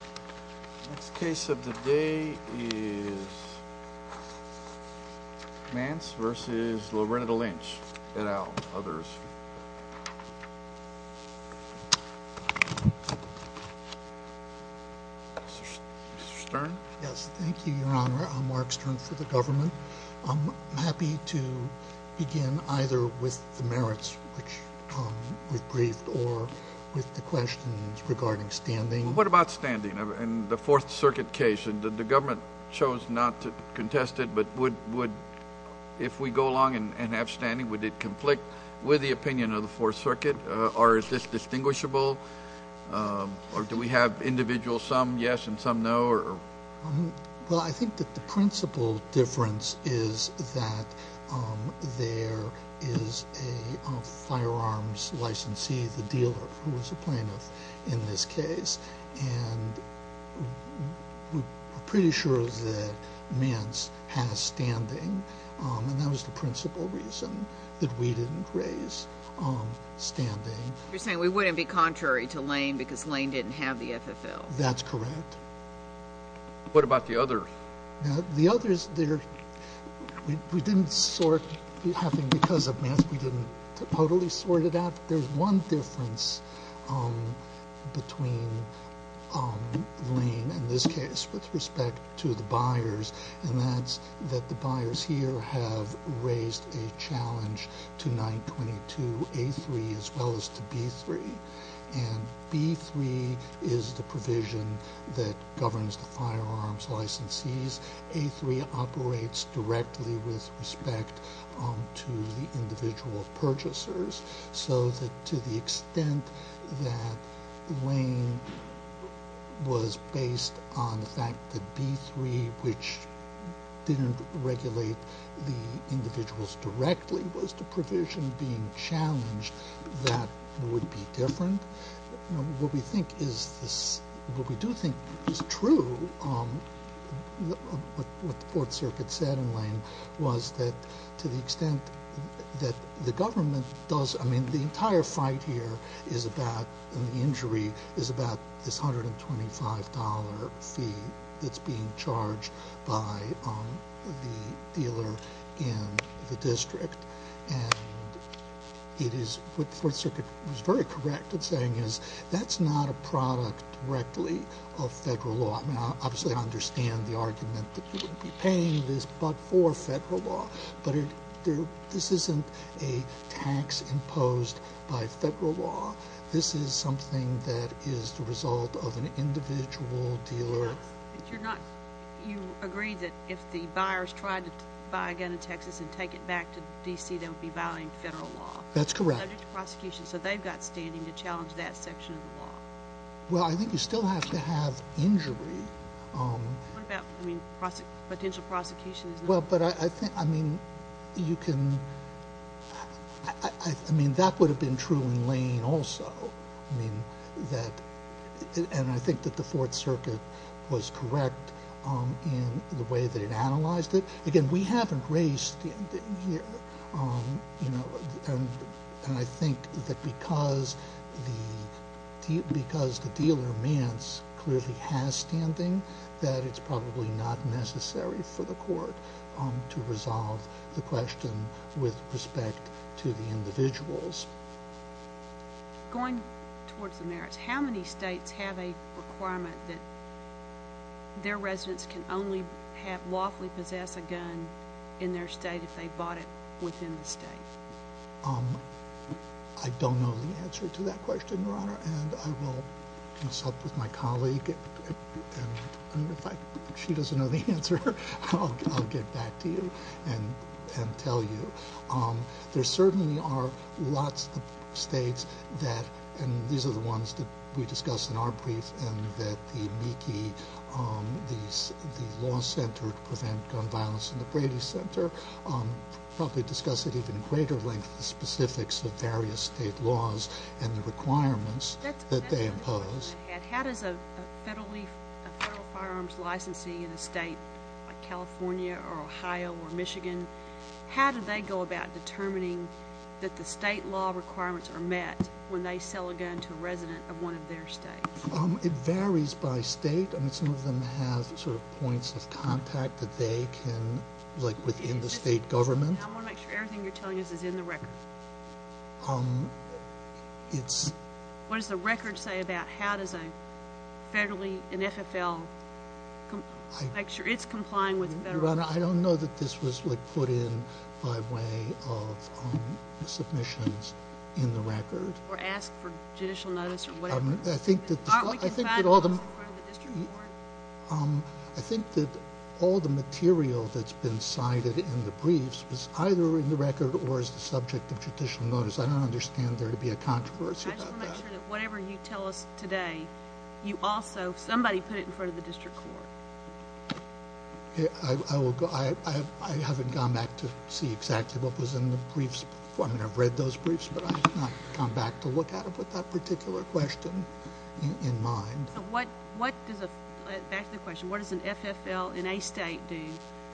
The next case of the day is Mance v. Loretta Lynch, et al., others. Mr. Stern? Yes, thank you, Your Honor. I'm Mark Stern for the government. I'm happy to begin either with the merits, which we've briefed, or with the questions regarding standing. What about standing? In the Fourth Circuit case, the government chose not to contest it. But if we go along and have standing, would it conflict with the opinion of the Fourth Circuit? Or is this distinguishable? Or do we have individuals, some yes and some no? Well, I think that the principal difference is that there is a firearms licensee, the dealer, who is a plaintiff in this case. And we're pretty sure that Mance has standing. And that was the principal reason that we didn't raise standing. You're saying we wouldn't be contrary to Lane because Lane didn't have the FFL? That's correct. What about the others? The others, we didn't sort, because of Mance, we didn't totally sort it out. There's one difference between Lane in this case with respect to the buyers, and that's that the buyers here have raised a challenge to 922A3 as well as to B3. And B3 is the provision that governs the firearms licensees. A3 operates directly with respect to the individual purchasers. So to the extent that Lane was based on the fact that B3, which didn't regulate the individuals directly, was the provision being challenged, that would be different. What we do think is true, what the Fourth Circuit said in Lane, was that to the extent that the government does, I mean, the entire fight here is about, and the injury is about this $125 fee that's being charged by the dealer in the district. And what the Fourth Circuit was very correct in saying is that's not a product directly of federal law. Obviously, I understand the argument that you wouldn't be paying this but for federal law. But this isn't a tax imposed by federal law. This is something that is the result of an individual dealer. But you're not, you agree that if the buyers tried to buy a gun in Texas and take it back to D.C., they would be violating federal law. That's correct. Subject to prosecution. So they've got standing to challenge that section of the law. Well, I think you still have to have injury. What about, I mean, potential prosecution? Well, but I think, I mean, you can, I mean, that would have been true in Lane also. I mean, that, and I think that the Fourth Circuit was correct in the way that it analyzed it. Again, we haven't raised, you know, and I think that because the dealer, Mance, clearly has standing that it's probably not necessary for the court to resolve the question with respect to the individuals. Going towards the merits, how many states have a requirement that their residents can only have, lawfully possess a gun in their state if they bought it within the state? I don't know the answer to that question, Your Honor, and I will consult with my colleague, and if she doesn't know the answer, I'll get back to you and tell you. There certainly are lots of states that, and these are the ones that we discussed in our brief, and that the MEKI, the Law Center to Prevent Gun Violence in the Brady Center, probably discussed at even greater length the specifics of various state laws and the requirements that they impose. How does a federally, a federal firearms licensee in a state like California or Ohio or Michigan, how do they go about determining that the state law requirements are met when they sell a gun to a resident of one of their states? It varies by state. I mean, some of them have sort of points of contact that they can, like within the state government. I want to make sure everything you're telling us is in the record. What does the record say about how does a federally, an FFL, make sure it's complying with the federal law? I don't know that this was put in by way of submissions in the record. Or asked for judicial notice or whatever. I think that all the material that's been cited in the briefs was either in the record or is the subject of judicial notice. I don't understand there to be a controversy about that. I just want to make sure that whatever you tell us today, you also, somebody put it in front of the district court. I haven't gone back to see exactly what was in the briefs. I mean, I've read those briefs, but I have not gone back to look at it with that particular question in mind. Back to the question, what does an FFL in a state do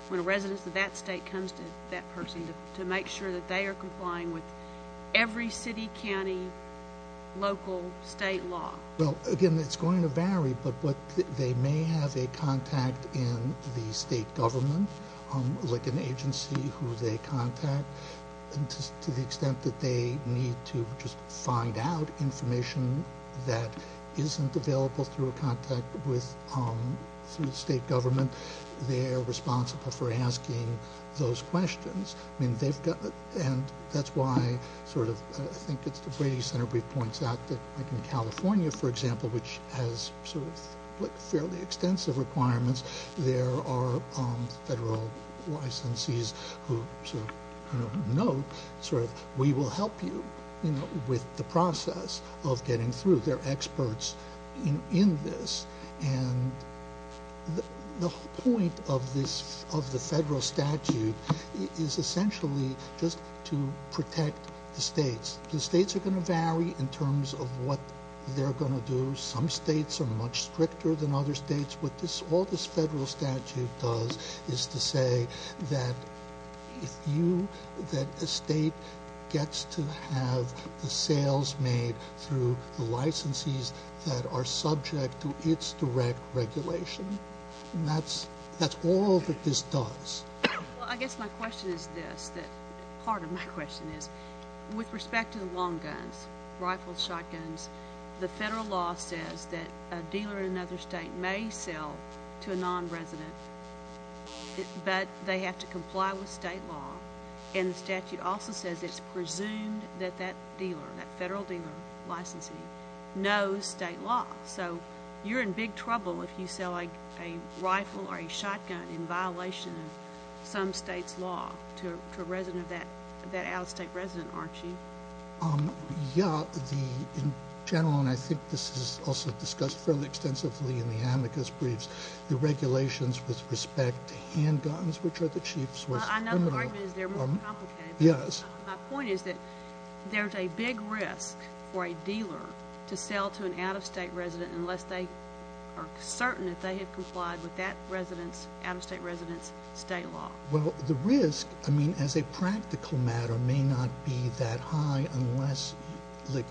when a resident of that state comes to that person to make sure that they are complying with every city, county, local, state law? Well, again, it's going to vary, but they may have a contact in the state government, like an agency who they contact. To the extent that they need to just find out information that isn't available through a contact with the state government, they're responsible for asking those questions. And that's why I think it's the Brady Center brief points out that in California, for example, which has fairly extensive requirements, there are federal licensees who note, we will help you with the process of getting through. They're experts in this. And the whole point of the federal statute is essentially just to protect the states. The states are going to vary in terms of what they're going to do. Some states are much stricter than other states. What all this federal statute does is to say that a state gets to have the sales made through the licensees that are subject to its direct regulation. That's all that this does. Well, I guess my question is this, that part of my question is, with respect to the long guns, rifles, shotguns, the federal law says that a dealer in another state may sell to a non-resident, but they have to comply with state law. And the statute also says it's presumed that that dealer, that federal dealer licensing, knows state law. So you're in big trouble if you sell a rifle or a shotgun in violation of some state's law to a resident of that out-of-state resident, aren't you? Yeah. In general, and I think this is also discussed fairly extensively in the amicus briefs, the regulations with respect to handguns, which are the chief source of criminal— I know the argument is they're more complicated. Yes. My point is that there's a big risk for a dealer to sell to an out-of-state resident unless they are certain that they have complied with that out-of-state resident's state law. Well, the risk, I mean, as a practical matter, may not be that high unless the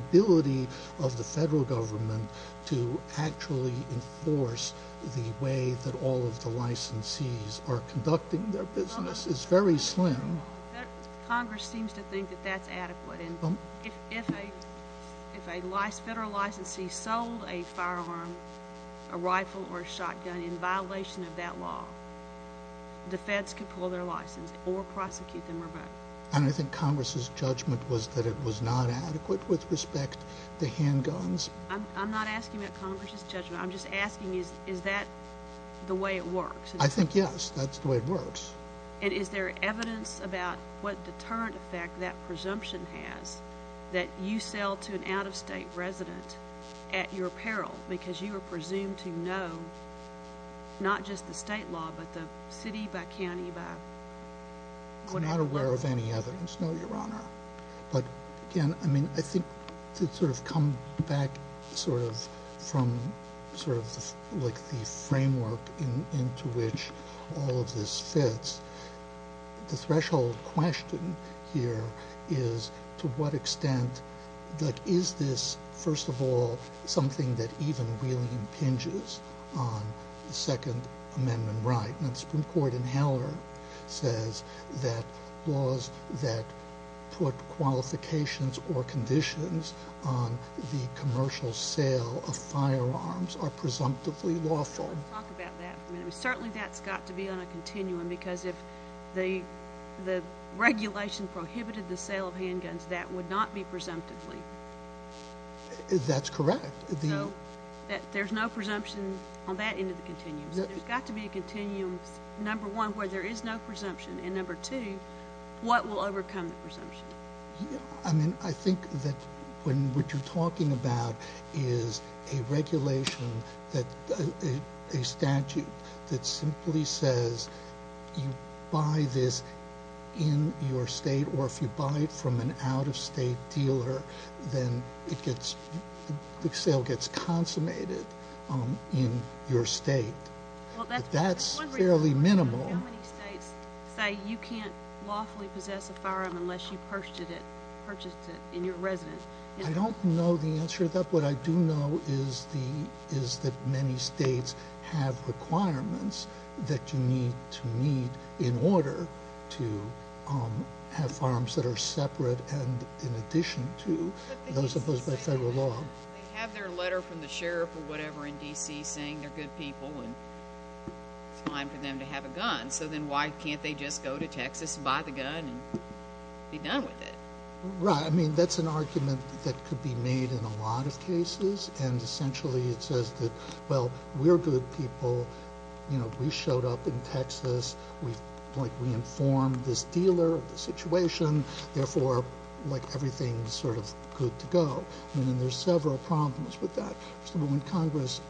ability of the federal government to actually enforce the way that all of the licensees are conducting their business is very slim. Congress seems to think that that's adequate, and if a federal licensee sold a firearm, a rifle, or a shotgun in violation of that law, the feds could pull their license or prosecute them or vote. And I think Congress's judgment was that it was not adequate with respect to handguns. I'm not asking about Congress's judgment. I'm just asking, is that the way it works? I think, yes, that's the way it works. And is there evidence about what deterrent effect that presumption has that you sell to an out-of-state resident at your peril because you are presumed to know not just the state law but the city by county by whatever— The threshold question here is to what extent—like, is this, first of all, something that even really impinges on the Second Amendment right? And the Supreme Court in Heller says that laws that put qualifications or conditions on the commercial sale of firearms are presumptively lawful. Certainly that's got to be on a continuum because if the regulation prohibited the sale of handguns, that would not be presumptively. That's correct. So there's no presumption on that end of the continuum. So there's got to be a continuum, number one, where there is no presumption, and number two, what will overcome the presumption? I mean, I think that what you're talking about is a regulation, a statute that simply says you buy this in your state or if you buy it from an out-of-state dealer, then the sale gets consummated in your state. But that's fairly minimal. How many states say you can't lawfully possess a firearm unless you purchased it in your residence? I don't know the answer to that. What I do know is that many states have requirements that you need to meet in order to have firearms that are separate and in addition to those imposed by federal law. They have their letter from the sheriff or whatever in D.C. saying they're good people and it's time for them to have a gun, so then why can't they just go to Texas and buy the gun and be done with it? Right. I mean, that's an argument that could be made in a lot of cases, and essentially it says that, well, we're good people, we showed up in Texas, we informed this dealer of the situation, therefore everything's sort of good to go. And then there's several problems with that. So when Congress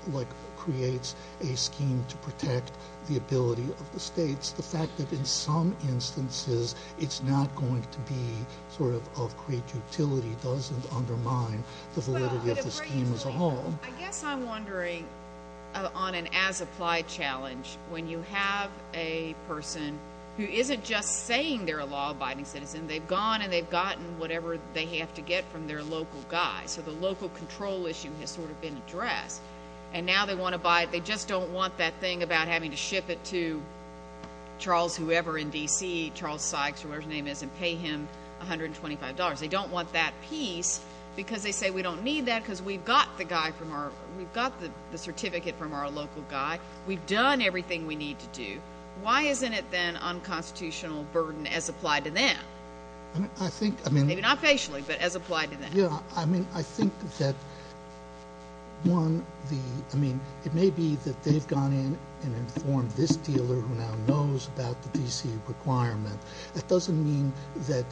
creates a scheme to protect the ability of the states, the fact that in some instances it's not going to be sort of of great utility doesn't undermine the validity of the scheme as a whole. I guess I'm wondering on an as-applied challenge, when you have a person who isn't just saying they're a law-abiding citizen, they've gone and they've gotten whatever they have to get from their local guy, so the local control issue has sort of been addressed. And now they want to buy it, they just don't want that thing about having to ship it to Charles whoever in D.C., Charles Sykes, whoever his name is, and pay him $125. They don't want that piece because they say we don't need that because we've got the guy from our – we've got the certificate from our local guy, we've done everything we need to do. Why isn't it then unconstitutional burden as applied to them? I think – Maybe not patiently, but as applied to them. I think that, one, it may be that they've gone in and informed this dealer who now knows about the D.C. requirement. That doesn't mean that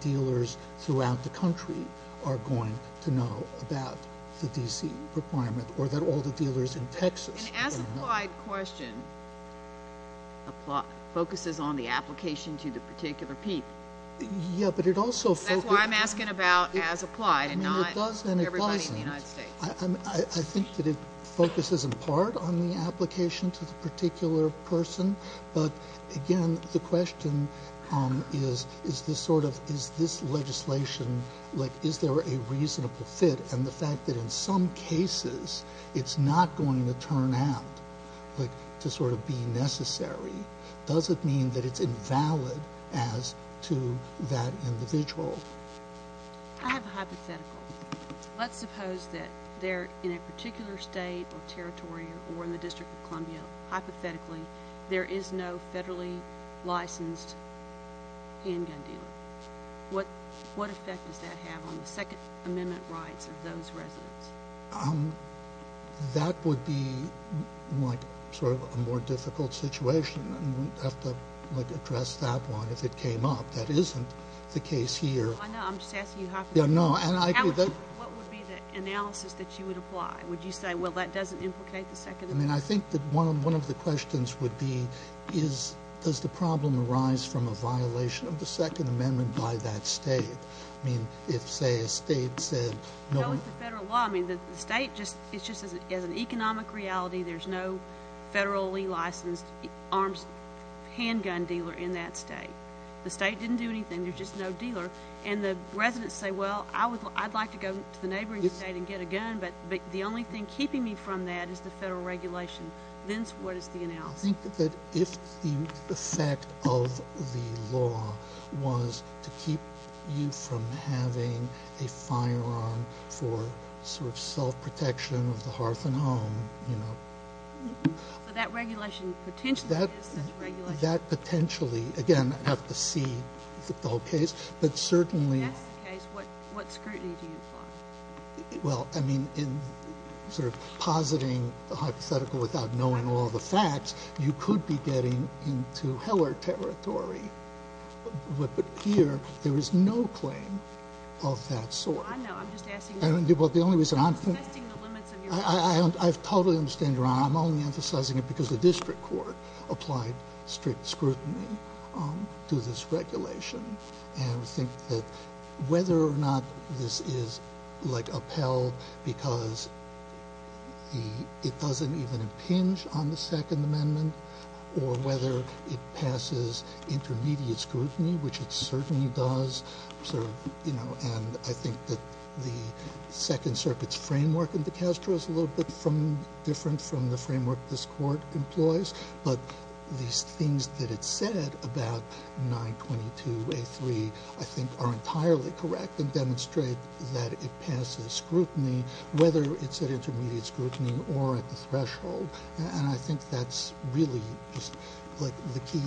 dealers throughout the country are going to know about the D.C. requirement or that all the dealers in Texas are going to know. An as-applied question focuses on the application to the particular people. Yeah, but it also – That's why I'm asking about as applied and not everybody in the United States. I think that it focuses in part on the application to the particular person. But, again, the question is, is this sort of – is this legislation, like, is there a reasonable fit? And the fact that in some cases it's not going to turn out to sort of be necessary, does it mean that it's invalid as to that individual? I have a hypothetical. Let's suppose that they're in a particular state or territory or in the District of Columbia. Hypothetically, there is no federally licensed handgun dealer. What effect does that have on the Second Amendment rights of those residents? That would be, like, sort of a more difficult situation. We'd have to, like, address that one if it came up. That isn't the case here. I know. I'm just asking you how – Yeah, no, and I – What would be the analysis that you would apply? Would you say, well, that doesn't implicate the Second Amendment? I mean, I think that one of the questions would be is does the problem arise from a violation of the Second Amendment by that state? I mean, if, say, a state said – No, it's the federal law. I mean, the state just – it's just as an economic reality, there's no federally licensed arms handgun dealer in that state. The state didn't do anything. There's just no dealer. And the residents say, well, I'd like to go to the neighboring state and get a gun. But the only thing keeping me from that is the federal regulation. Vince, what is the analysis? I think that if the effect of the law was to keep you from having a firearm for sort of self-protection of the hearth and home, you know – So that regulation potentially exists as a regulation? That potentially – again, I'd have to see the whole case. But certainly – If that's the case, what scrutiny do you apply? Well, I mean, in sort of positing the hypothetical without knowing all the facts, you could be getting into Heller territory. But here, there is no claim of that sort. Well, I know. I'm just asking – Well, the only reason I'm – I'm just testing the limits of your – I totally understand you, Your Honor. I'm only emphasizing it because the district court applied strict scrutiny to this regulation. And I think that whether or not this is, like, upheld because it doesn't even impinge on the Second Amendment, or whether it passes intermediate scrutiny, which it certainly does. And I think that the Second Circuit's framework in DeCastro is a little bit different from the framework this Court employs. But these things that it said about 922A3, I think, are entirely correct and demonstrate that it passes scrutiny, whether it's at intermediate scrutiny or at the threshold. And I think that's really just, like, the key.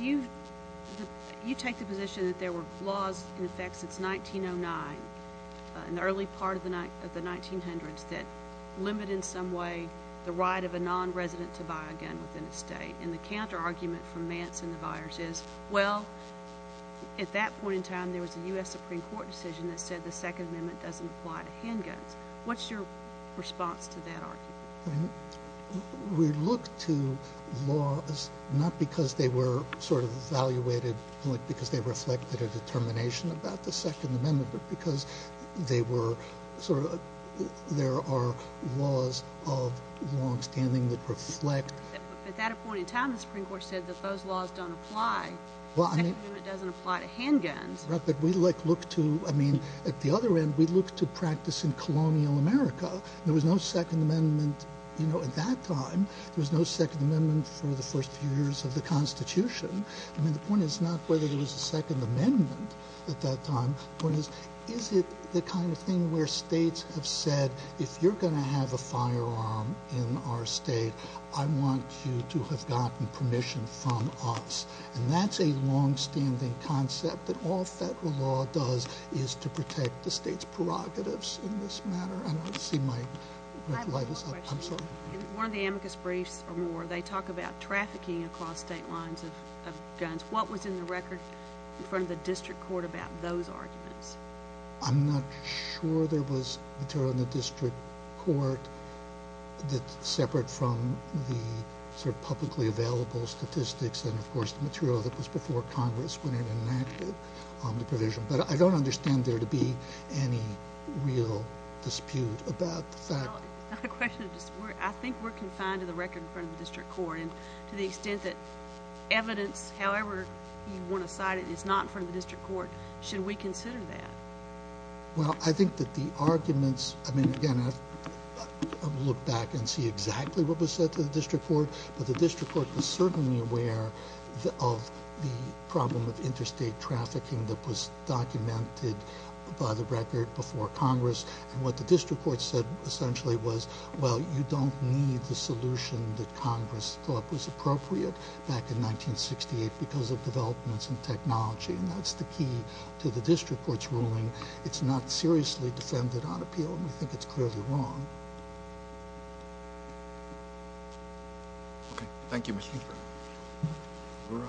You take the position that there were laws in effect since 1909, in the early part of the 1900s, that limited in some way the right of a nonresident to buy a gun within a state. And the counterargument from Mance and the buyers is, well, at that point in time, there was a U.S. Supreme Court decision that said the Second Amendment doesn't apply to handguns. What's your response to that argument? I mean, we look to laws not because they were sort of evaluated, like, because they reflected a determination about the Second Amendment, but because they were sort of – there are laws of longstanding that reflect – At that point in time, the Supreme Court said that those laws don't apply. Well, I mean – The Second Amendment doesn't apply to handguns. I mean, at the other end, we look to practice in colonial America. There was no Second Amendment, you know, at that time. There was no Second Amendment for the first few years of the Constitution. I mean, the point is not whether there was a Second Amendment at that time. The point is, is it the kind of thing where states have said, if you're going to have a firearm in our state, I want you to have gotten permission from us? And that's a longstanding concept that all federal law does is to protect the state's prerogatives in this matter. I don't see my – I have one more question. I'm sorry. In one of the amicus briefs or more, they talk about trafficking across state lines of guns. What was in the record in front of the district court about those arguments? I'm not sure there was material in the district court separate from the sort of publicly available statistics and, of course, the material that was before Congress when it enacted the provision. But I don't understand there to be any real dispute about the fact – I think we're confined to the record in front of the district court. And to the extent that evidence, however you want to cite it, is not in front of the district court, should we consider that? Well, I think that the arguments – I mean, again, I would look back and see exactly what was said to the district court. But the district court was certainly aware of the problem of interstate trafficking that was documented by the record before Congress. And what the district court said essentially was, well, you don't need the solution that Congress thought was appropriate back in 1968 because of developments in technology. And that's the key to the district court's ruling. It's not seriously defended on appeal, and we think it's clearly wrong. Okay. Thank you, Mr. Speaker.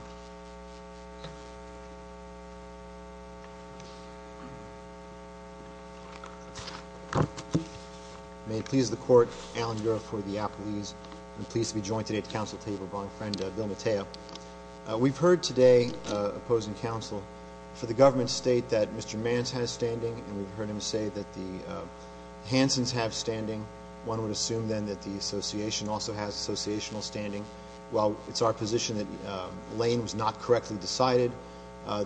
May it please the Court, Alan Yuroff for the Appellees. I'm pleased to be joined today at the Council table by my friend, Bill Mateo. We've heard today opposing counsel for the government to state that Mr. Manns has standing, and we've heard him say that the Hansons have standing. One would assume, then, that the Association also has associational standing. While it's our position that Lane was not correctly decided,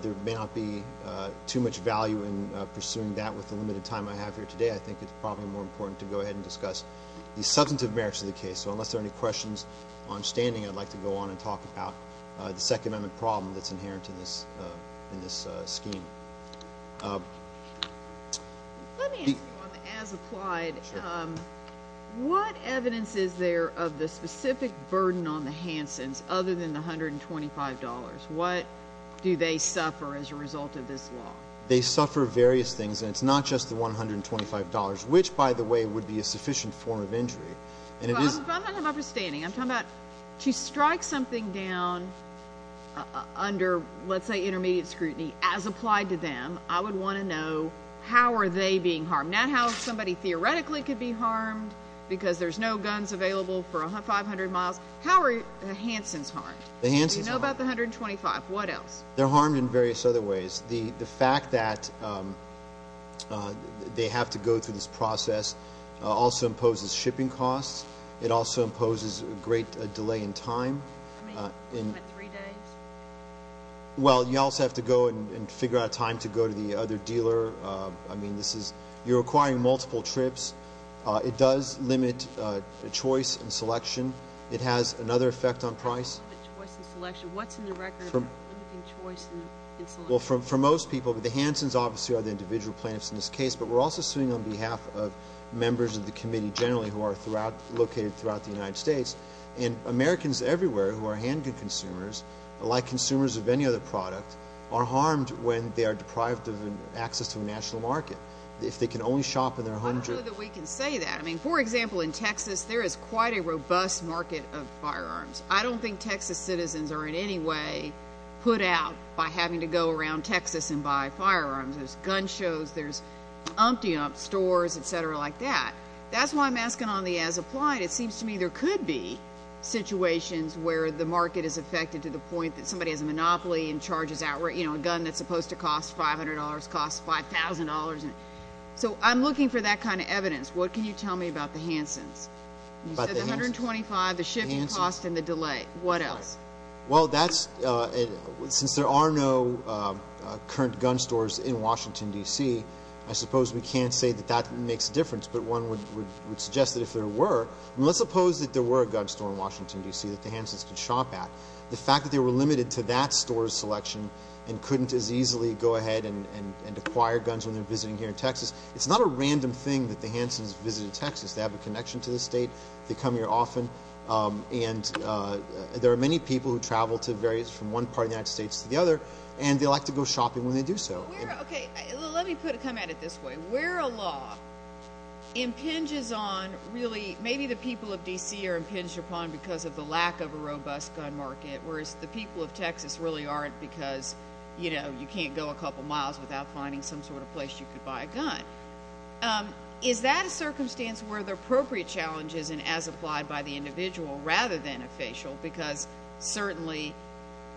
there may not be too much value in pursuing that with the limited time I have here today. I think it's probably more important to go ahead and discuss the substantive merits of the case. So unless there are any questions on standing, I'd like to go on and talk about the Second Amendment problem that's inherent in this scheme. Let me ask you on the as-applied. Sure. What evidence is there of the specific burden on the Hansons other than the $125? What do they suffer as a result of this law? They suffer various things, and it's not just the $125, which, by the way, would be a sufficient form of injury. I'm not talking about standing. I'm talking about to strike something down under, let's say, intermediate scrutiny as applied to them, I would want to know how are they being harmed. Not how somebody theoretically could be harmed because there's no guns available for 500 miles. How are the Hansons harmed? The Hansons are harmed. Do you know about the $125? What else? They're harmed in various other ways. The fact that they have to go through this process also imposes shipping costs. It also imposes a great delay in time. How many? What, three days? Well, you also have to go and figure out a time to go to the other dealer. I mean, this is you're acquiring multiple trips. It does limit choice and selection. It has another effect on price. How does it limit choice and selection? What's in the record for limiting choice and selection? Well, for most people, the Hansons obviously are the individual plaintiffs in this case, but we're also suing on behalf of members of the committee generally who are located throughout the United States. And Americans everywhere who are handgun consumers, like consumers of any other product, are harmed when they are deprived of access to a national market. If they can only shop in their home. I don't know that we can say that. I mean, for example, in Texas, there is quite a robust market of firearms. I don't think Texas citizens are in any way put out by having to go around Texas and buy firearms. There's gun shows. There's umpty-umps, stores, et cetera, like that. That's why I'm asking on the as-applied. It seems to me there could be situations where the market is affected to the point that somebody has a monopoly and charges outright, you know, a gun that's supposed to cost $500 costs $5,000. So I'm looking for that kind of evidence. What can you tell me about the Hansons? You said the $125, the shift in cost, and the delay. What else? Well, that's, since there are no current gun stores in Washington, D.C., I suppose we can't say that that makes a difference. But one would suggest that if there were, let's suppose that there were a gun store in Washington, D.C. that the Hansons could shop at. The fact that they were limited to that store's selection and couldn't as easily go ahead and acquire guns when they're visiting here in Texas, it's not a random thing that the Hansons visited Texas. They have a connection to the state. They come here often. And there are many people who travel to various, from one part of the United States to the other, and they like to go shopping when they do so. Okay, let me put it, come at it this way. Where a law impinges on, really, maybe the people of D.C. are impinged upon because of the lack of a robust gun market, whereas the people of Texas really aren't because, you know, you can't go a couple miles without finding some sort of place you could buy a gun. Is that a circumstance where the appropriate challenge is an as-applied-by-the-individual rather than a facial because certainly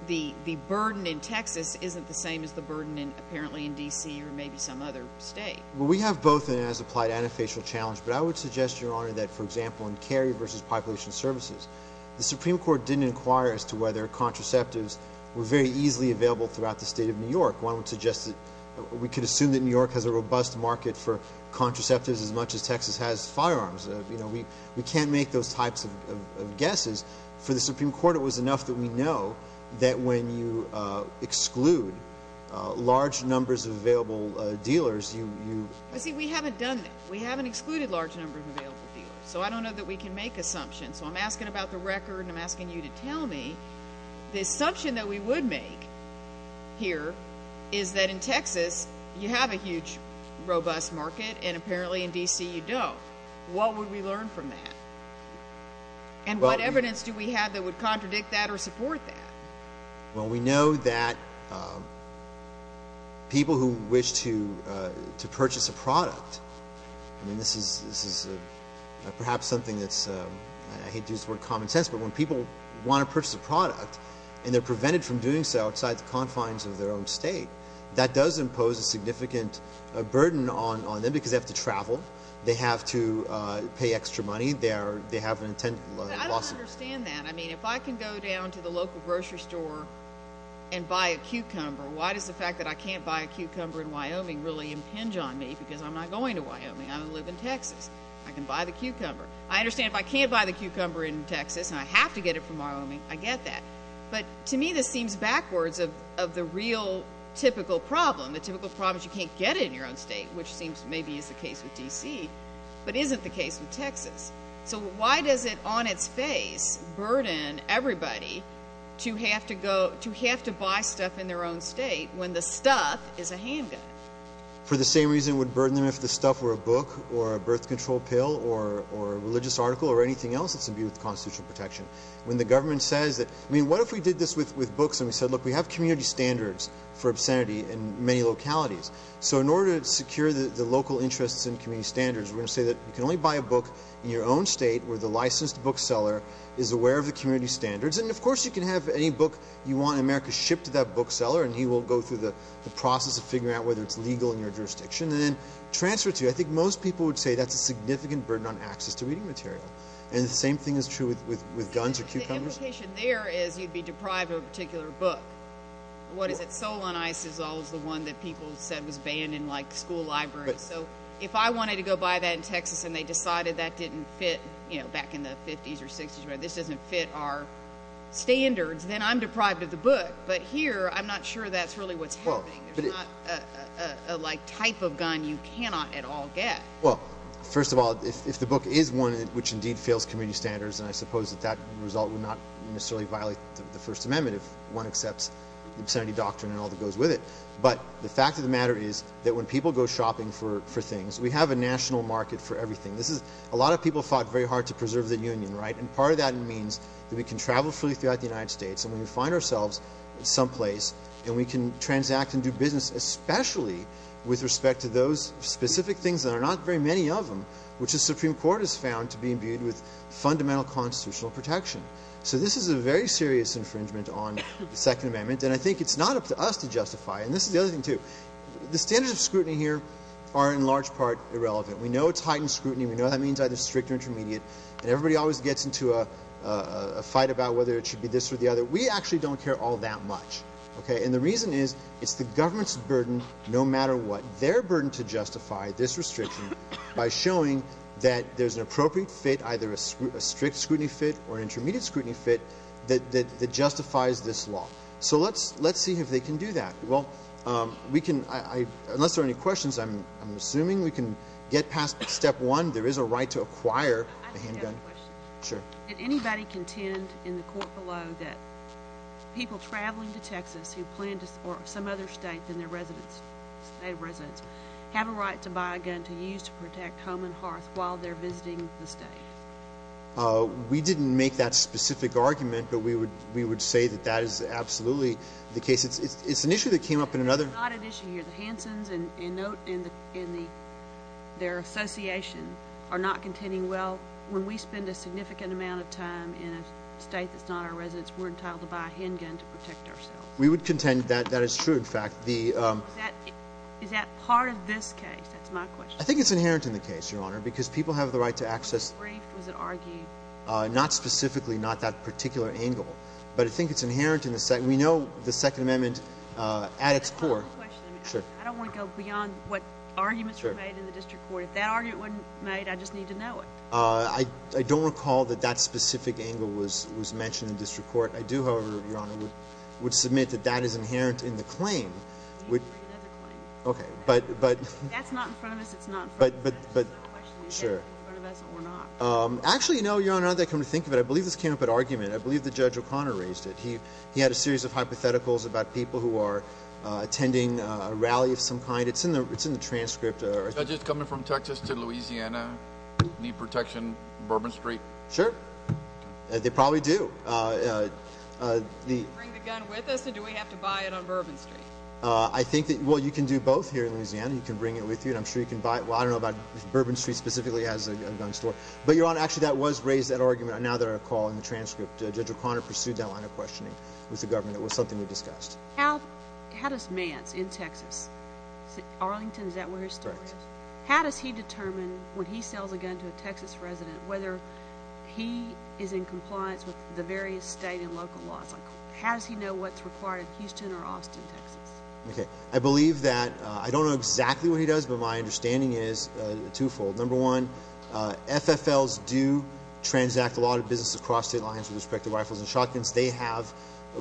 the burden in Texas isn't the same as the burden apparently in D.C. or maybe some other state? Well, we have both an as-applied and a facial challenge, but I would suggest, Your Honor, that, for example, in carry versus population services, the Supreme Court didn't inquire as to whether contraceptives were very easily available throughout the state of New York. One would suggest that we could assume that New York has a robust market for contraceptives as much as Texas has firearms. You know, we can't make those types of guesses. For the Supreme Court, it was enough that we know that when you exclude large numbers of available dealers, you— See, we haven't done that. We haven't excluded large numbers of available dealers, so I don't know that we can make assumptions. So I'm asking about the record and I'm asking you to tell me the assumption that we would make here is that in Texas, you have a huge robust market and apparently in D.C. you don't. What would we learn from that? And what evidence do we have that would contradict that or support that? Well, we know that people who wish to purchase a product, and this is perhaps something that's—I hate to use the word common sense, but when people want to purchase a product and they're prevented from doing so outside the confines of their own state, that does impose a significant burden on them because they have to travel, they have to pay extra money, they have an intent lawsuit. I don't understand that. I mean, if I can go down to the local grocery store and buy a cucumber, why does the fact that I can't buy a cucumber in Wyoming really impinge on me because I'm not going to Wyoming. I'm going to live in Texas. I can buy the cucumber. I understand if I can't buy the cucumber in Texas and I have to get it from Wyoming, I get that. But to me this seems backwards of the real typical problem. The typical problem is you can't get it in your own state, which seems maybe is the case with D.C., but isn't the case with Texas. So why does it on its face burden everybody to have to buy stuff in their own state when the stuff is a handgun? For the same reason it would burden them if the stuff were a book or a birth control pill or a religious article or anything else that's to do with constitutional protection. When the government says that—I mean, what if we did this with books and we said, look, we have community standards for obscenity in many localities. So in order to secure the local interests and community standards, we're going to say that you can only buy a book in your own state where the licensed bookseller is aware of the community standards. And, of course, you can have any book you want in America shipped to that bookseller, and he will go through the process of figuring out whether it's legal in your jurisdiction and then transfer it to you. I think most people would say that's a significant burden on access to reading material. And the same thing is true with guns or cucumbers. The implication there is you'd be deprived of a particular book. What is it? Soul on Ice is always the one that people said was banned in, like, school libraries. So if I wanted to go buy that in Texas and they decided that didn't fit, you know, back in the 50s or 60s, this doesn't fit our standards, then I'm deprived of the book. But here, I'm not sure that's really what's happening. There's not a, like, type of gun you cannot at all get. Well, first of all, if the book is one which indeed fails community standards, then I suppose that that result would not necessarily violate the First Amendment if one accepts the obscenity doctrine and all that goes with it. But the fact of the matter is that when people go shopping for things, we have a national market for everything. This is a lot of people fought very hard to preserve the union, right? And part of that means that we can travel freely throughout the United States and we can find ourselves someplace and we can transact and do business, especially with respect to those specific things that are not very many of them, which the Supreme Court has found to be imbued with fundamental constitutional protection. So this is a very serious infringement on the Second Amendment. And I think it's not up to us to justify it. And this is the other thing, too. The standards of scrutiny here are in large part irrelevant. We know it's heightened scrutiny. We know that means either strict or intermediate. And everybody always gets into a fight about whether it should be this or the other. We actually don't care all that much. And the reason is it's the government's burden no matter what, their burden to justify this restriction by showing that there's an appropriate fit, either a strict scrutiny fit or an intermediate scrutiny fit that justifies this law. So let's see if they can do that. Well, we can, unless there are any questions, I'm assuming we can get past step one. There is a right to acquire a handgun. I just have a question. Sure. Did anybody contend in the court below that people traveling to Texas who plan to, or some other state in their residence, state residence, have a right to buy a gun to use to protect Coleman Hearth while they're visiting the state? We didn't make that specific argument, but we would say that that is absolutely the case. It's an issue that came up in another. It's not an issue here. The Hansons and their association are not contending, well, when we spend a significant amount of time in a state that's not our residence, we're entitled to buy a handgun to protect ourselves. We would contend that that is true, in fact. Is that part of this case? That's my question. I think it's inherent in the case, Your Honor, because people have the right to access. Was it briefed? Was it argued? Not specifically, not that particular angle. But I think it's inherent. We know the Second Amendment at its core. I have a question. Sure. I don't want to go beyond what arguments were made in the district court. If that argument wasn't made, I just need to know it. I don't recall that that specific angle was mentioned in district court. I do, however, Your Honor, would submit that that is inherent in the claim. We need to bring another claim. That's not in front of us. That's not in front of us. That's the question. It's in front of us, and we're not. Actually, no, Your Honor, now that I come to think of it, I believe this came up at argument. I believe that Judge O'Connor raised it. He had a series of hypotheticals about people who are attending a rally of some kind. It's in the transcript. Judges coming from Texas to Louisiana need protection on Bourbon Street? Sure. They probably do. Do we bring the gun with us, and do we have to buy it on Bourbon Street? Well, you can do both here in Louisiana. You can bring it with you, and I'm sure you can buy it. Well, I don't know about Bourbon Street specifically as a gun store. But, Your Honor, actually that was raised at argument, now that I recall, in the transcript. Judge O'Connor pursued that line of questioning with the government. It was something we discussed. How does Mance in Texas, Arlington, is that where his story is? Correct. How does he determine when he sells a gun to a Texas resident whether he is in compliance with the various state and local laws? How does he know what's required in Houston or Austin, Texas? Okay. I believe that I don't know exactly what he does, but my understanding is twofold. Number one, FFLs do transact a lot of business across state lines with respect to rifles and shotguns. They have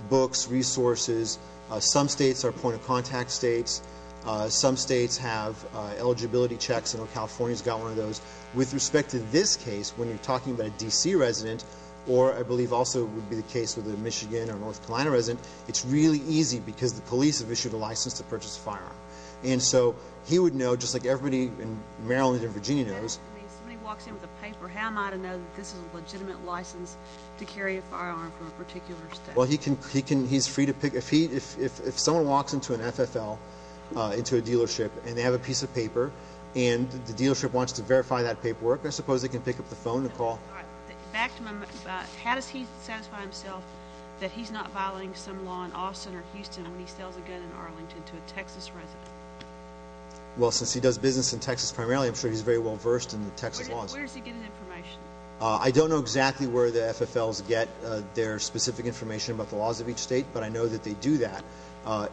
books, resources. Some states are point-of-contact states. Some states have eligibility checks. I know California's got one of those. With respect to this case, when you're talking about a D.C. resident, or I believe also would be the case with a Michigan or North Carolina resident, it's really easy because the police have issued a license to purchase a firearm. And so he would know, just like everybody in Maryland and Virginia knows. If somebody walks in with a paper, how am I to know that this is a legitimate license to carry a firearm from a particular state? Well, he's free to pick. If someone walks into an FFL, into a dealership, and they have a piece of paper and the dealership wants to verify that paperwork, I suppose they can pick up the phone and call. How does he satisfy himself that he's not violating some law in Austin or Houston when he sells a gun in Arlington to a Texas resident? Well, since he does business in Texas primarily, I'm sure he's very well versed in the Texas laws. Where does he get his information? I don't know exactly where the FFLs get their specific information about the laws of each state, but I know that they do that.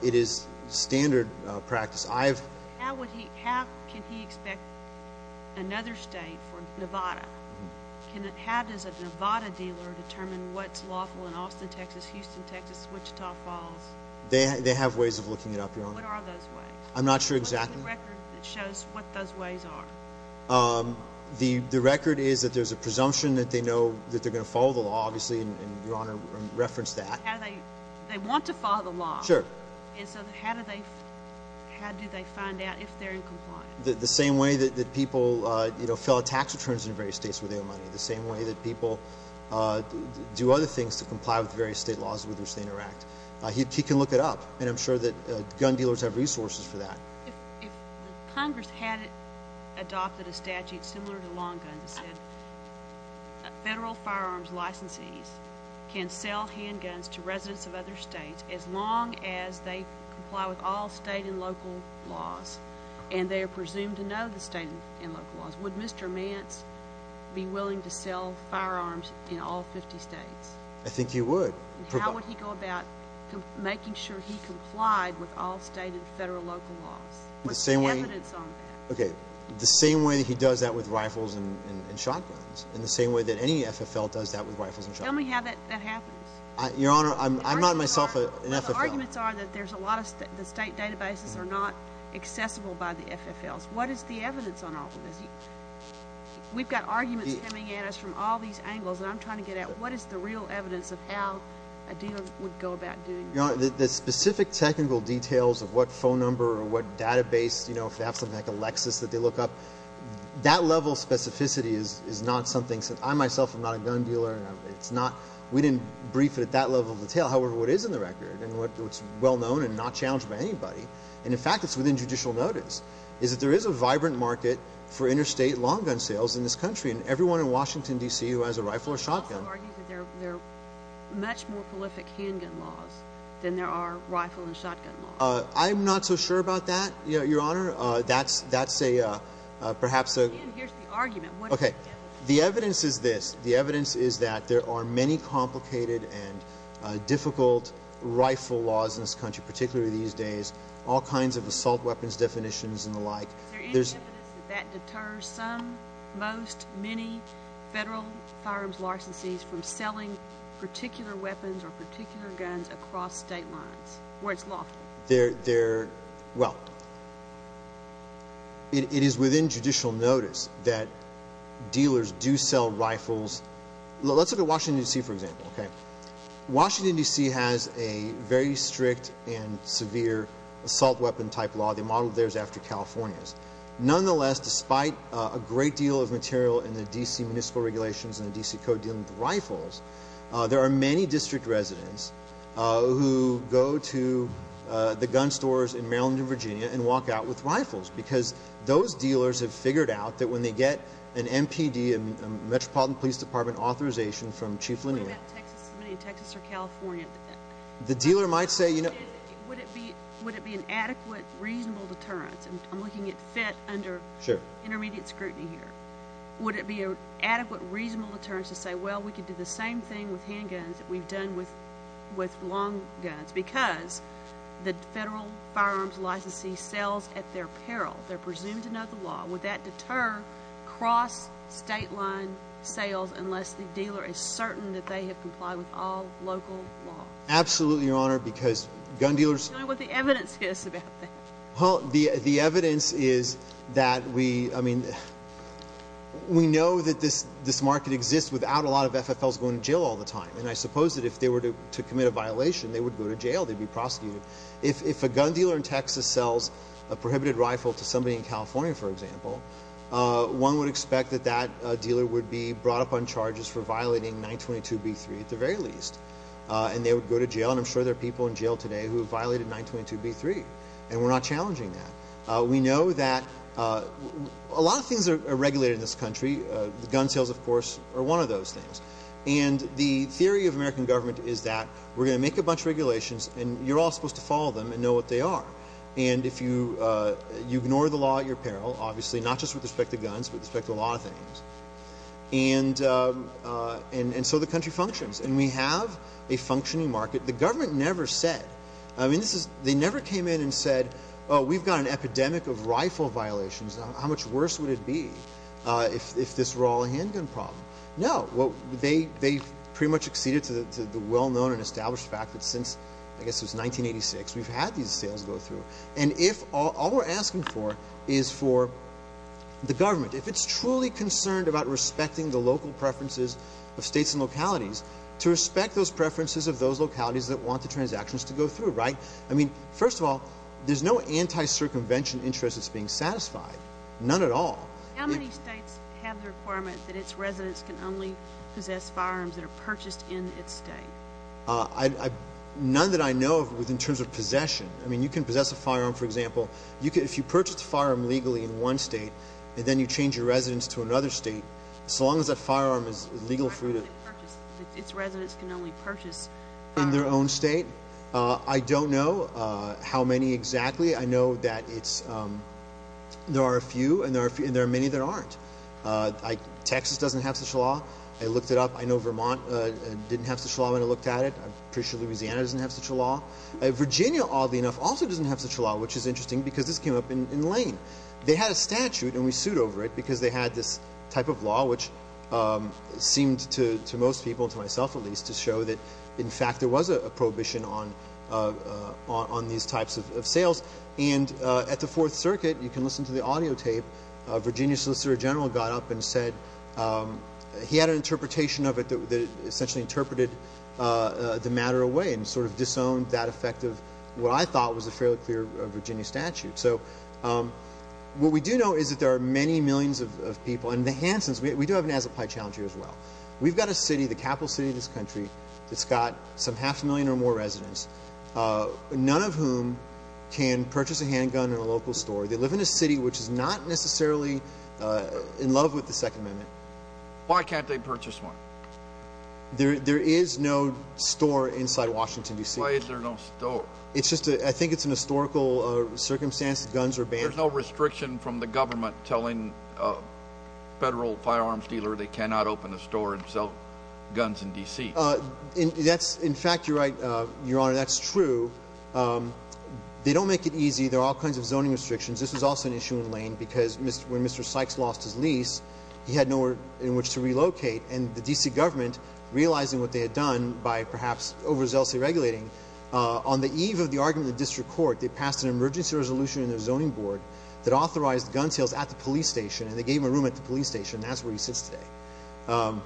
It is standard practice. How can he expect another state for Nevada? How does a Nevada dealer determine what's lawful in Austin, Texas, Houston, Texas, Wichita Falls? They have ways of looking it up, Your Honor. What are those ways? I'm not sure exactly. What is the record that shows what those ways are? The record is that there's a presumption that they know that they're going to follow the law, obviously, and Your Honor referenced that. They want to follow the law. Sure. And so how do they find out if they're in compliance? The same way that people fill out tax returns in various states where they owe money, the same way that people do other things to comply with various state laws with which they interact. He can look it up, and I'm sure that gun dealers have resources for that. If Congress hadn't adopted a statute similar to long guns that said federal firearms licensees can sell handguns to residents of other states as long as they comply with all state and local laws, and they are presumed to know the state and local laws, would Mr. Mance be willing to sell firearms in all 50 states? I think he would. How would he go about making sure he complied with all state and federal local laws? What's the evidence on that? The same way that he does that with rifles and shotguns, and the same way that any FFL does that with rifles and shotguns. Tell me how that happens. Your Honor, I'm not myself an FFL. Well, the arguments are that the state databases are not accessible by the FFLs. What is the evidence on all of this? We've got arguments coming at us from all these angles, and I'm trying to get at what is the real evidence of how a dealer would go about doing that? Your Honor, the specific technical details of what phone number or what database, if they have something like a Lexus that they look up, that level of specificity is not something that I myself am not a gun dealer. We didn't brief it at that level of detail. However, what is in the record, and what's well known and not challenged by anybody, and, in fact, it's within judicial notice, is that there is a vibrant market for interstate long gun sales in this country, and everyone in Washington, D.C. who has a rifle or shotgun. They also argue that there are much more prolific handgun laws than there are rifle and shotgun laws. I'm not so sure about that, Your Honor. That's perhaps a— Again, here's the argument. What is the evidence? The evidence is this. The evidence is that there are many complicated and difficult rifle laws in this country, particularly these days, all kinds of assault weapons definitions and the like. Is there any evidence that that deters some, most, many federal firearms licensees from selling particular weapons or particular guns across state lines where it's locked? Well, it is within judicial notice that dealers do sell rifles. Let's look at Washington, D.C., for example. Washington, D.C. has a very strict and severe assault weapon type law. The model there is after California's. Nonetheless, despite a great deal of material in the D.C. municipal regulations and the D.C. code dealing with rifles, there are many district residents who go to the gun stores in Maryland and Virginia and walk out with rifles because those dealers have figured out that when they get an MPD, a Metropolitan Police Department authorization from Chief Linnear— What about Texas or California? The dealer might say— Would it be an adequate, reasonable deterrence? I'm looking at FIT under intermediate scrutiny here. Would it be an adequate, reasonable deterrence to say, well, we could do the same thing with handguns that we've done with long guns because the federal firearms licensee sells at their peril? They're presumed to know the law. Would that deter cross-state line sales unless the dealer is certain that they have complied with all local law? Absolutely, Your Honor, because gun dealers— Tell me what the evidence is about that. Well, the evidence is that we—I mean, we know that this market exists without a lot of FFLs going to jail all the time, and I suppose that if they were to commit a violation, they would go to jail. They'd be prosecuted. If a gun dealer in Texas sells a prohibited rifle to somebody in California, for example, one would expect that that dealer would be brought up on charges for violating 922b3 at the very least, and they would go to jail, and I'm sure there are people in jail today who have violated 922b3, and we're not challenging that. We know that a lot of things are regulated in this country. Gun sales, of course, are one of those things. And the theory of American government is that we're going to make a bunch of regulations, and you're all supposed to follow them and know what they are. And if you ignore the law at your peril, obviously, not just with respect to guns, but with respect to a lot of things, and so the country functions, and we have a functioning market. The government never said. I mean, they never came in and said, oh, we've got an epidemic of rifle violations. How much worse would it be if this were all a handgun problem? No. They pretty much acceded to the well-known and established fact that since, I guess it was 1986, we've had these sales go through. And if all we're asking for is for the government, if it's truly concerned about respecting the local preferences of states and localities, to respect those preferences of those localities that want the transactions to go through, right? I mean, first of all, there's no anti-circumvention interest that's being satisfied, none at all. How many states have the requirement that its residents can only possess firearms that are purchased in its state? None that I know of in terms of possession. I mean, you can possess a firearm, for example. If you purchase a firearm legally in one state and then you change your residence to another state, so long as that firearm is legally free to purchase in their own state. I don't know how many exactly. I know that there are a few, and there are many that aren't. Texas doesn't have such a law. I looked it up. I know Vermont didn't have such a law when I looked at it. I'm pretty sure Louisiana doesn't have such a law. Virginia, oddly enough, also doesn't have such a law, which is interesting because this came up in Lane. They had a statute, and we sued over it because they had this type of law, which seemed to most people, to myself at least, to show that, in fact, there was a prohibition on these types of sales. And at the Fourth Circuit, you can listen to the audio tape, a Virginia solicitor general got up and said he had an interpretation of it that essentially interpreted the matter away and sort of disowned that effect of what I thought was a fairly clear Virginia statute. So what we do know is that there are many millions of people. And the Hansons, we do have an as-applied challenge here as well. We've got a city, the capital city of this country, that's got some half a million or more residents, none of whom can purchase a handgun in a local store. They live in a city which is not necessarily in love with the Second Amendment. Why can't they purchase one? There is no store inside Washington, D.C. Why is there no store? I think it's an historical circumstance that guns are banned. There's no restriction from the government telling a federal firearms dealer they cannot open a store and sell guns in D.C. In fact, you're right, Your Honor, that's true. They don't make it easy. There are all kinds of zoning restrictions. This was also an issue in Lane because when Mr. Sykes lost his lease, he had nowhere in which to relocate. And the D.C. government, realizing what they had done by perhaps overzealously regulating, on the eve of the argument in the district court, they passed an emergency resolution in their zoning board that authorized gun sales at the police station, and they gave him a room at the police station. That's where he sits today.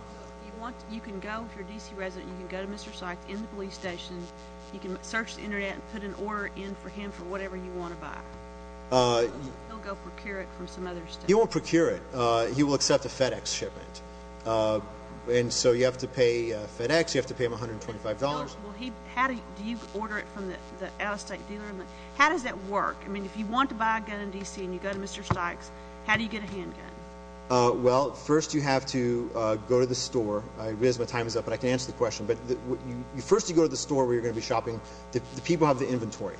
You can go, if you're a D.C. resident, you can go to Mr. Sykes in the police station. You can search the Internet and put an order in for him for whatever you want to buy. He'll go procure it from some other state. He won't procure it. He will accept a FedEx shipment. And so you have to pay FedEx. You have to pay him $125. Do you order it from the out-of-state dealer? How does that work? I mean, if you want to buy a gun in D.C. and you go to Mr. Sykes, how do you get a handgun? Well, first you have to go to the store. I realize my time is up, but I can answer the question. But first you go to the store where you're going to be shopping. The people have the inventory.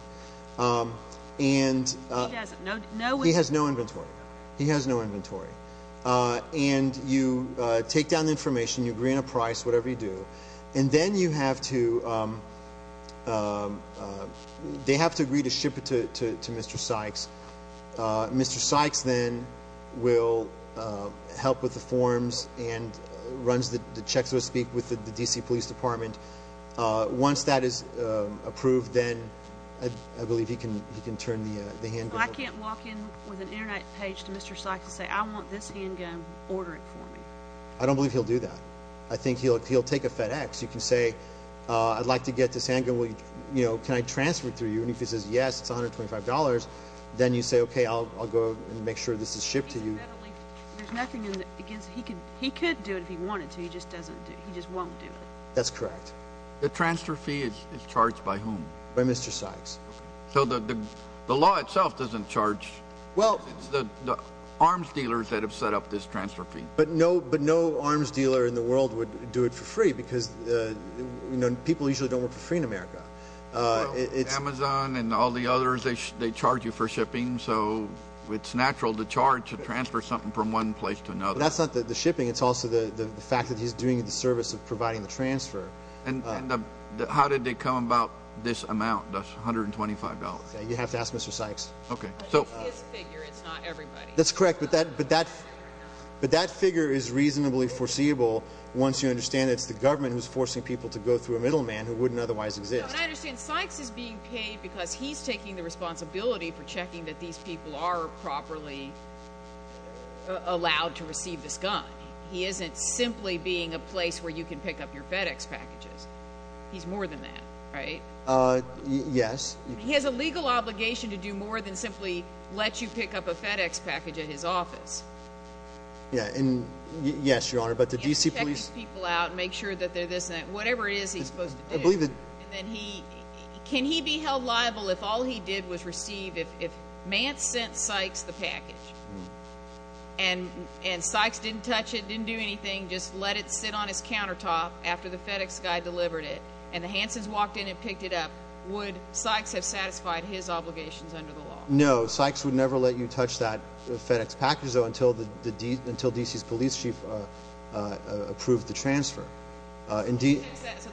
He doesn't. He has no inventory. He has no inventory. And you take down the information. You agree on a price, whatever you do. And then you have to, they have to agree to ship it to Mr. Sykes. Mr. Sykes then will help with the forms and runs the checks, so to speak, with the D.C. Police Department. Once that is approved, then I believe he can turn the handgun over. I can't walk in with an Internet page to Mr. Sykes and say, I want this handgun. Order it for me. I don't believe he'll do that. I think he'll take a FedEx. You can say, I'd like to get this handgun. Can I transfer it through you? And if he says yes, it's $125, then you say, okay, I'll go and make sure this is shipped to you. There's nothing in it. He could do it if he wanted to. He just won't do it. That's correct. The transfer fee is charged by whom? By Mr. Sykes. The law itself doesn't charge. It's the arms dealers that have set up this transfer fee. But no arms dealer in the world would do it for free because people usually don't work for free in America. Amazon and all the others, they charge you for shipping, so it's natural to charge to transfer something from one place to another. That's not the shipping. It's also the fact that he's doing the service of providing the transfer. How did they come about this amount? That's $125. You have to ask Mr. Sykes. Okay. It's his figure. It's not everybody's. That's correct, but that figure is reasonably foreseeable once you understand it's the government who's forcing people to go through a middleman who wouldn't otherwise exist. No, and I understand Sykes is being paid because he's taking the responsibility for checking that these people are properly allowed to receive this gun. He isn't simply being a place where you can pick up your FedEx packages. He's more than that, right? Yes. He has a legal obligation to do more than simply let you pick up a FedEx package at his office. Yeah, and yes, Your Honor, but the D.C. police— He has to check these people out and make sure that they're this and that, whatever it is he's supposed to do. I believe that— Can he be held liable if all he did was receive—if Mance sent Sykes the package and Sykes didn't touch it, didn't do anything, just let it sit on his countertop after the FedEx guy delivered it, and the Hansons walked in and picked it up, would Sykes have satisfied his obligations under the law? No, Sykes would never let you touch that FedEx package, though, until D.C.'s police chief approved the transfer. So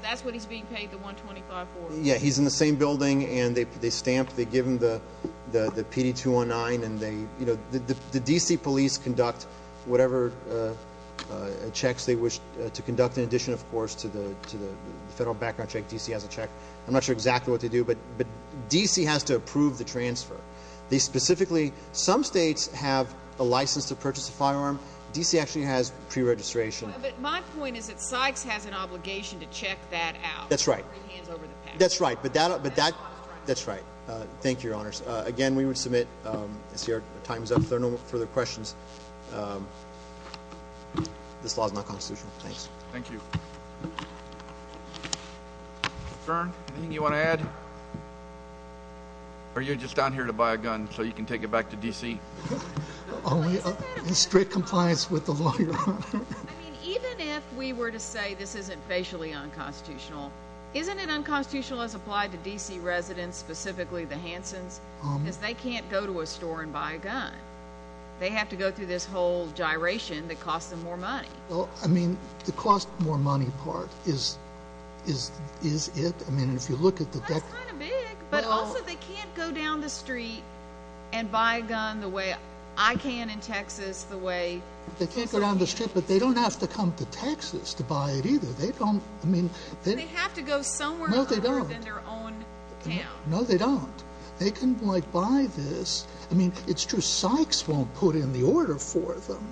that's when he's being paid the $125,000? Yeah, he's in the same building, and they stamp—they give him the PD-209, and they—the D.C. police conduct whatever checks they wish to conduct, in addition, of course, to the federal background check. D.C. has a check. I'm not sure exactly what they do, but D.C. has to approve the transfer. They specifically—some states have a license to purchase a firearm. D.C. actually has pre-registration. But my point is that Sykes has an obligation to check that out. That's right. Hands over the package. That's right, but that—that's right. Thank you, Your Honors. Again, we would submit—I see our time is up. If there are no further questions, this law is not constitutional. Thanks. Thank you. Mr. Stern, anything you want to add? Or are you just down here to buy a gun so you can take it back to D.C.? Only in strict compliance with the law, Your Honor. I mean, even if we were to say this isn't facially unconstitutional, isn't it unconstitutional as applied to D.C. residents, specifically the Hansons? Because they can't go to a store and buy a gun. They have to go through this whole gyration that costs them more money. Well, I mean, the cost more money part is it. I mean, if you look at the— That's kind of big. But also, they can't go down the street and buy a gun the way I can in Texas, the way— They can't go down the street, but they don't have to come to Texas to buy it either. They don't—I mean— They have to go somewhere other than their own town. No, they don't. They can, like, buy this. I mean, it's true Sykes won't put in the order for them,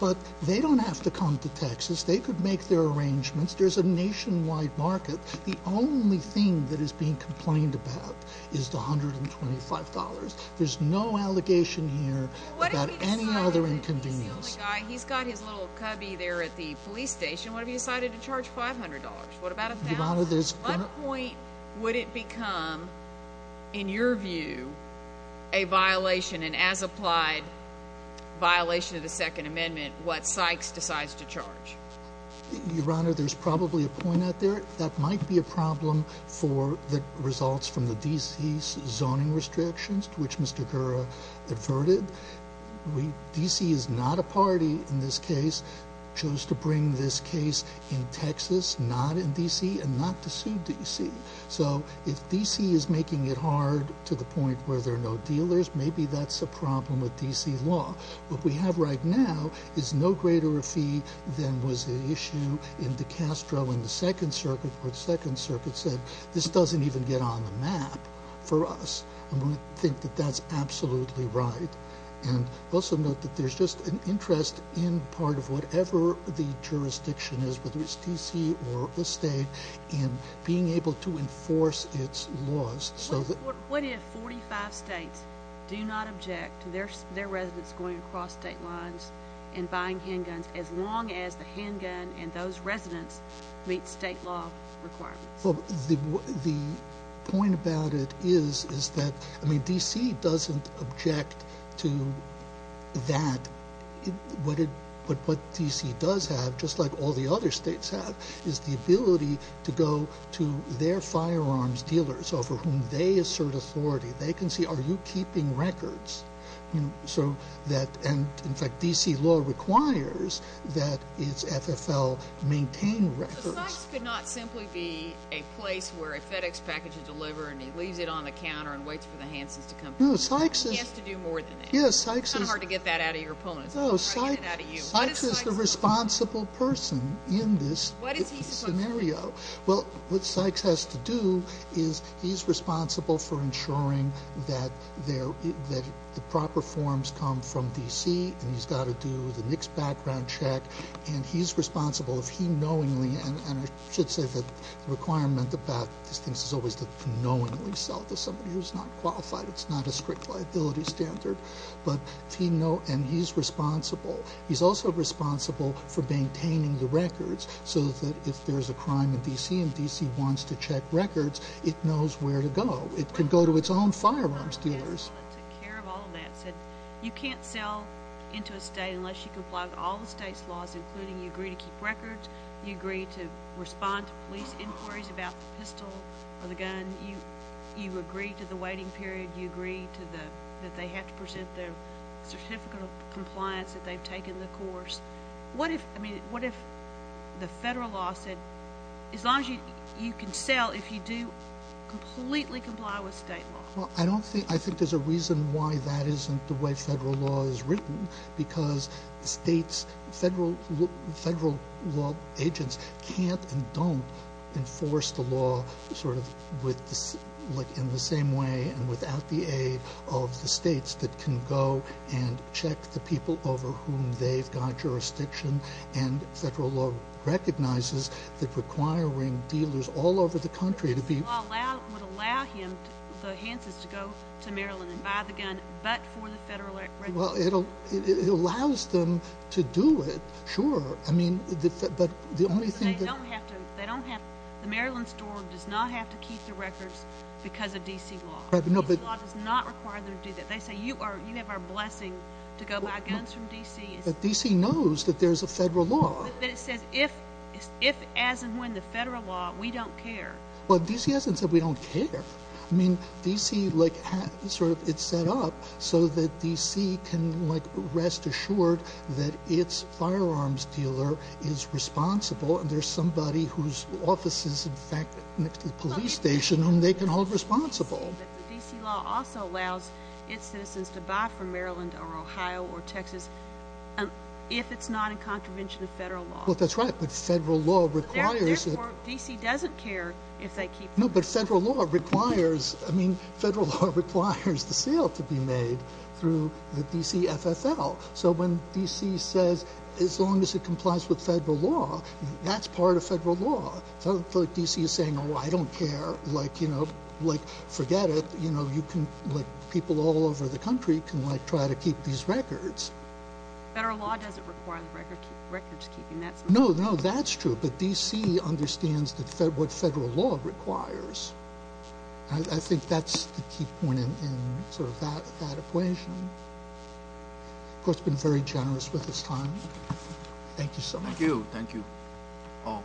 but they don't have to come to Texas. They could make their arrangements. There's a nationwide market. The only thing that is being complained about is the $125. There's no allegation here about any other inconvenience. He's the only guy. He's got his little cubby there at the police station. What if he decided to charge $500? What about $1,000? Your Honor, there's— What point would it become, in your view, a violation, an as-applied violation of the Second Amendment, what Sykes decides to charge? Your Honor, there's probably a point out there. That might be a problem for the results from the D.C.'s zoning restrictions, which Mr. Gura adverted. D.C. is not a party in this case, chose to bring this case in Texas, not in D.C., and not to sue D.C. So if D.C. is making it hard to the point where there are no dealers, maybe that's a problem with D.C. law. What we have right now is no greater a fee than was the issue in DeCastro in the Second Circuit, where the Second Circuit said, this doesn't even get on the map for us. I'm going to think that that's absolutely right. And also note that there's just an interest in part of whatever the jurisdiction is, whether it's D.C. or the state, in being able to enforce its laws. What if 45 states do not object to their residents going across state lines and buying handguns as long as the handgun and those residents meet state law requirements? The point about it is that D.C. doesn't object to that. What D.C. does have, just like all the other states have, is the ability to go to their firearms dealers over whom they assert authority. They can see, are you keeping records? And, in fact, D.C. law requires that its FFL maintain records. Well, Sykes could not simply be a place where a FedEx package is delivered and he leaves it on the counter and waits for the Hansons to come back. He has to do more than that. It's kind of hard to get that out of your opponents. Sykes is the responsible person in this scenario. Well, what Sykes has to do is he's responsible for ensuring that the proper forms come from D.C. and he's got to do the mixed background check. And he's responsible if he knowingly, and I should say that the requirement about these things is always to knowingly sell to somebody who's not qualified. It's not a strict liability standard. And he's responsible. He's also responsible for maintaining the records so that if there's a crime in D.C. and D.C. wants to check records, it knows where to go. It can go to its own firearms dealers. You can't sell into a state unless you comply with all the state's laws including you agree to keep records, you agree to respond to police inquiries about the pistol or the gun, you agree to the waiting period, you agree that they have to present their certificate of compliance that they've taken the course. What if the federal law said as long as you can sell if you do completely comply with state law? I think there's a reason why that isn't the way federal law is written because the state's federal law agents can't and don't enforce the law in the same way and without the aid of the states that can go and check the people over whom they've got jurisdiction. And federal law recognizes that requiring dealers all over the country to be Federal law would allow him, the hint is, to go to Maryland and buy the gun but for the federal records. Well, it allows them to do it, sure. I mean, but the only thing that They don't have to. The Maryland store does not have to keep the records because of D.C. law. D.C. law does not require them to do that. They say you have our blessing to go buy guns from D.C. But D.C. knows that there's a federal law. But it says if, as and when the federal law, we don't care. Well, D.C. hasn't said we don't care. I mean, D.C., like, sort of, it's set up so that D.C. can, like, rest assured that its firearms dealer is responsible and there's somebody whose office is, in fact, next to the police station whom they can hold responsible. D.C. law also allows its citizens to buy from Maryland or Ohio or Texas if it's not in contravention of federal law. Well, that's right, but federal law requires that Or D.C. doesn't care if they keep the records. No, but federal law requires, I mean, federal law requires the sale to be made through the D.C. FFL. So when D.C. says as long as it complies with federal law, that's part of federal law. So I don't feel like D.C. is saying, oh, I don't care, like, you know, like, forget it. You know, you can, like, people all over the country can, like, try to keep these records. Federal law doesn't require the records keeping. No, no, that's true, but D.C. understands what federal law requires. I think that's the key point in sort of that equation. The court's been very generous with its time. Thank you so much. Thank you. Thank you all.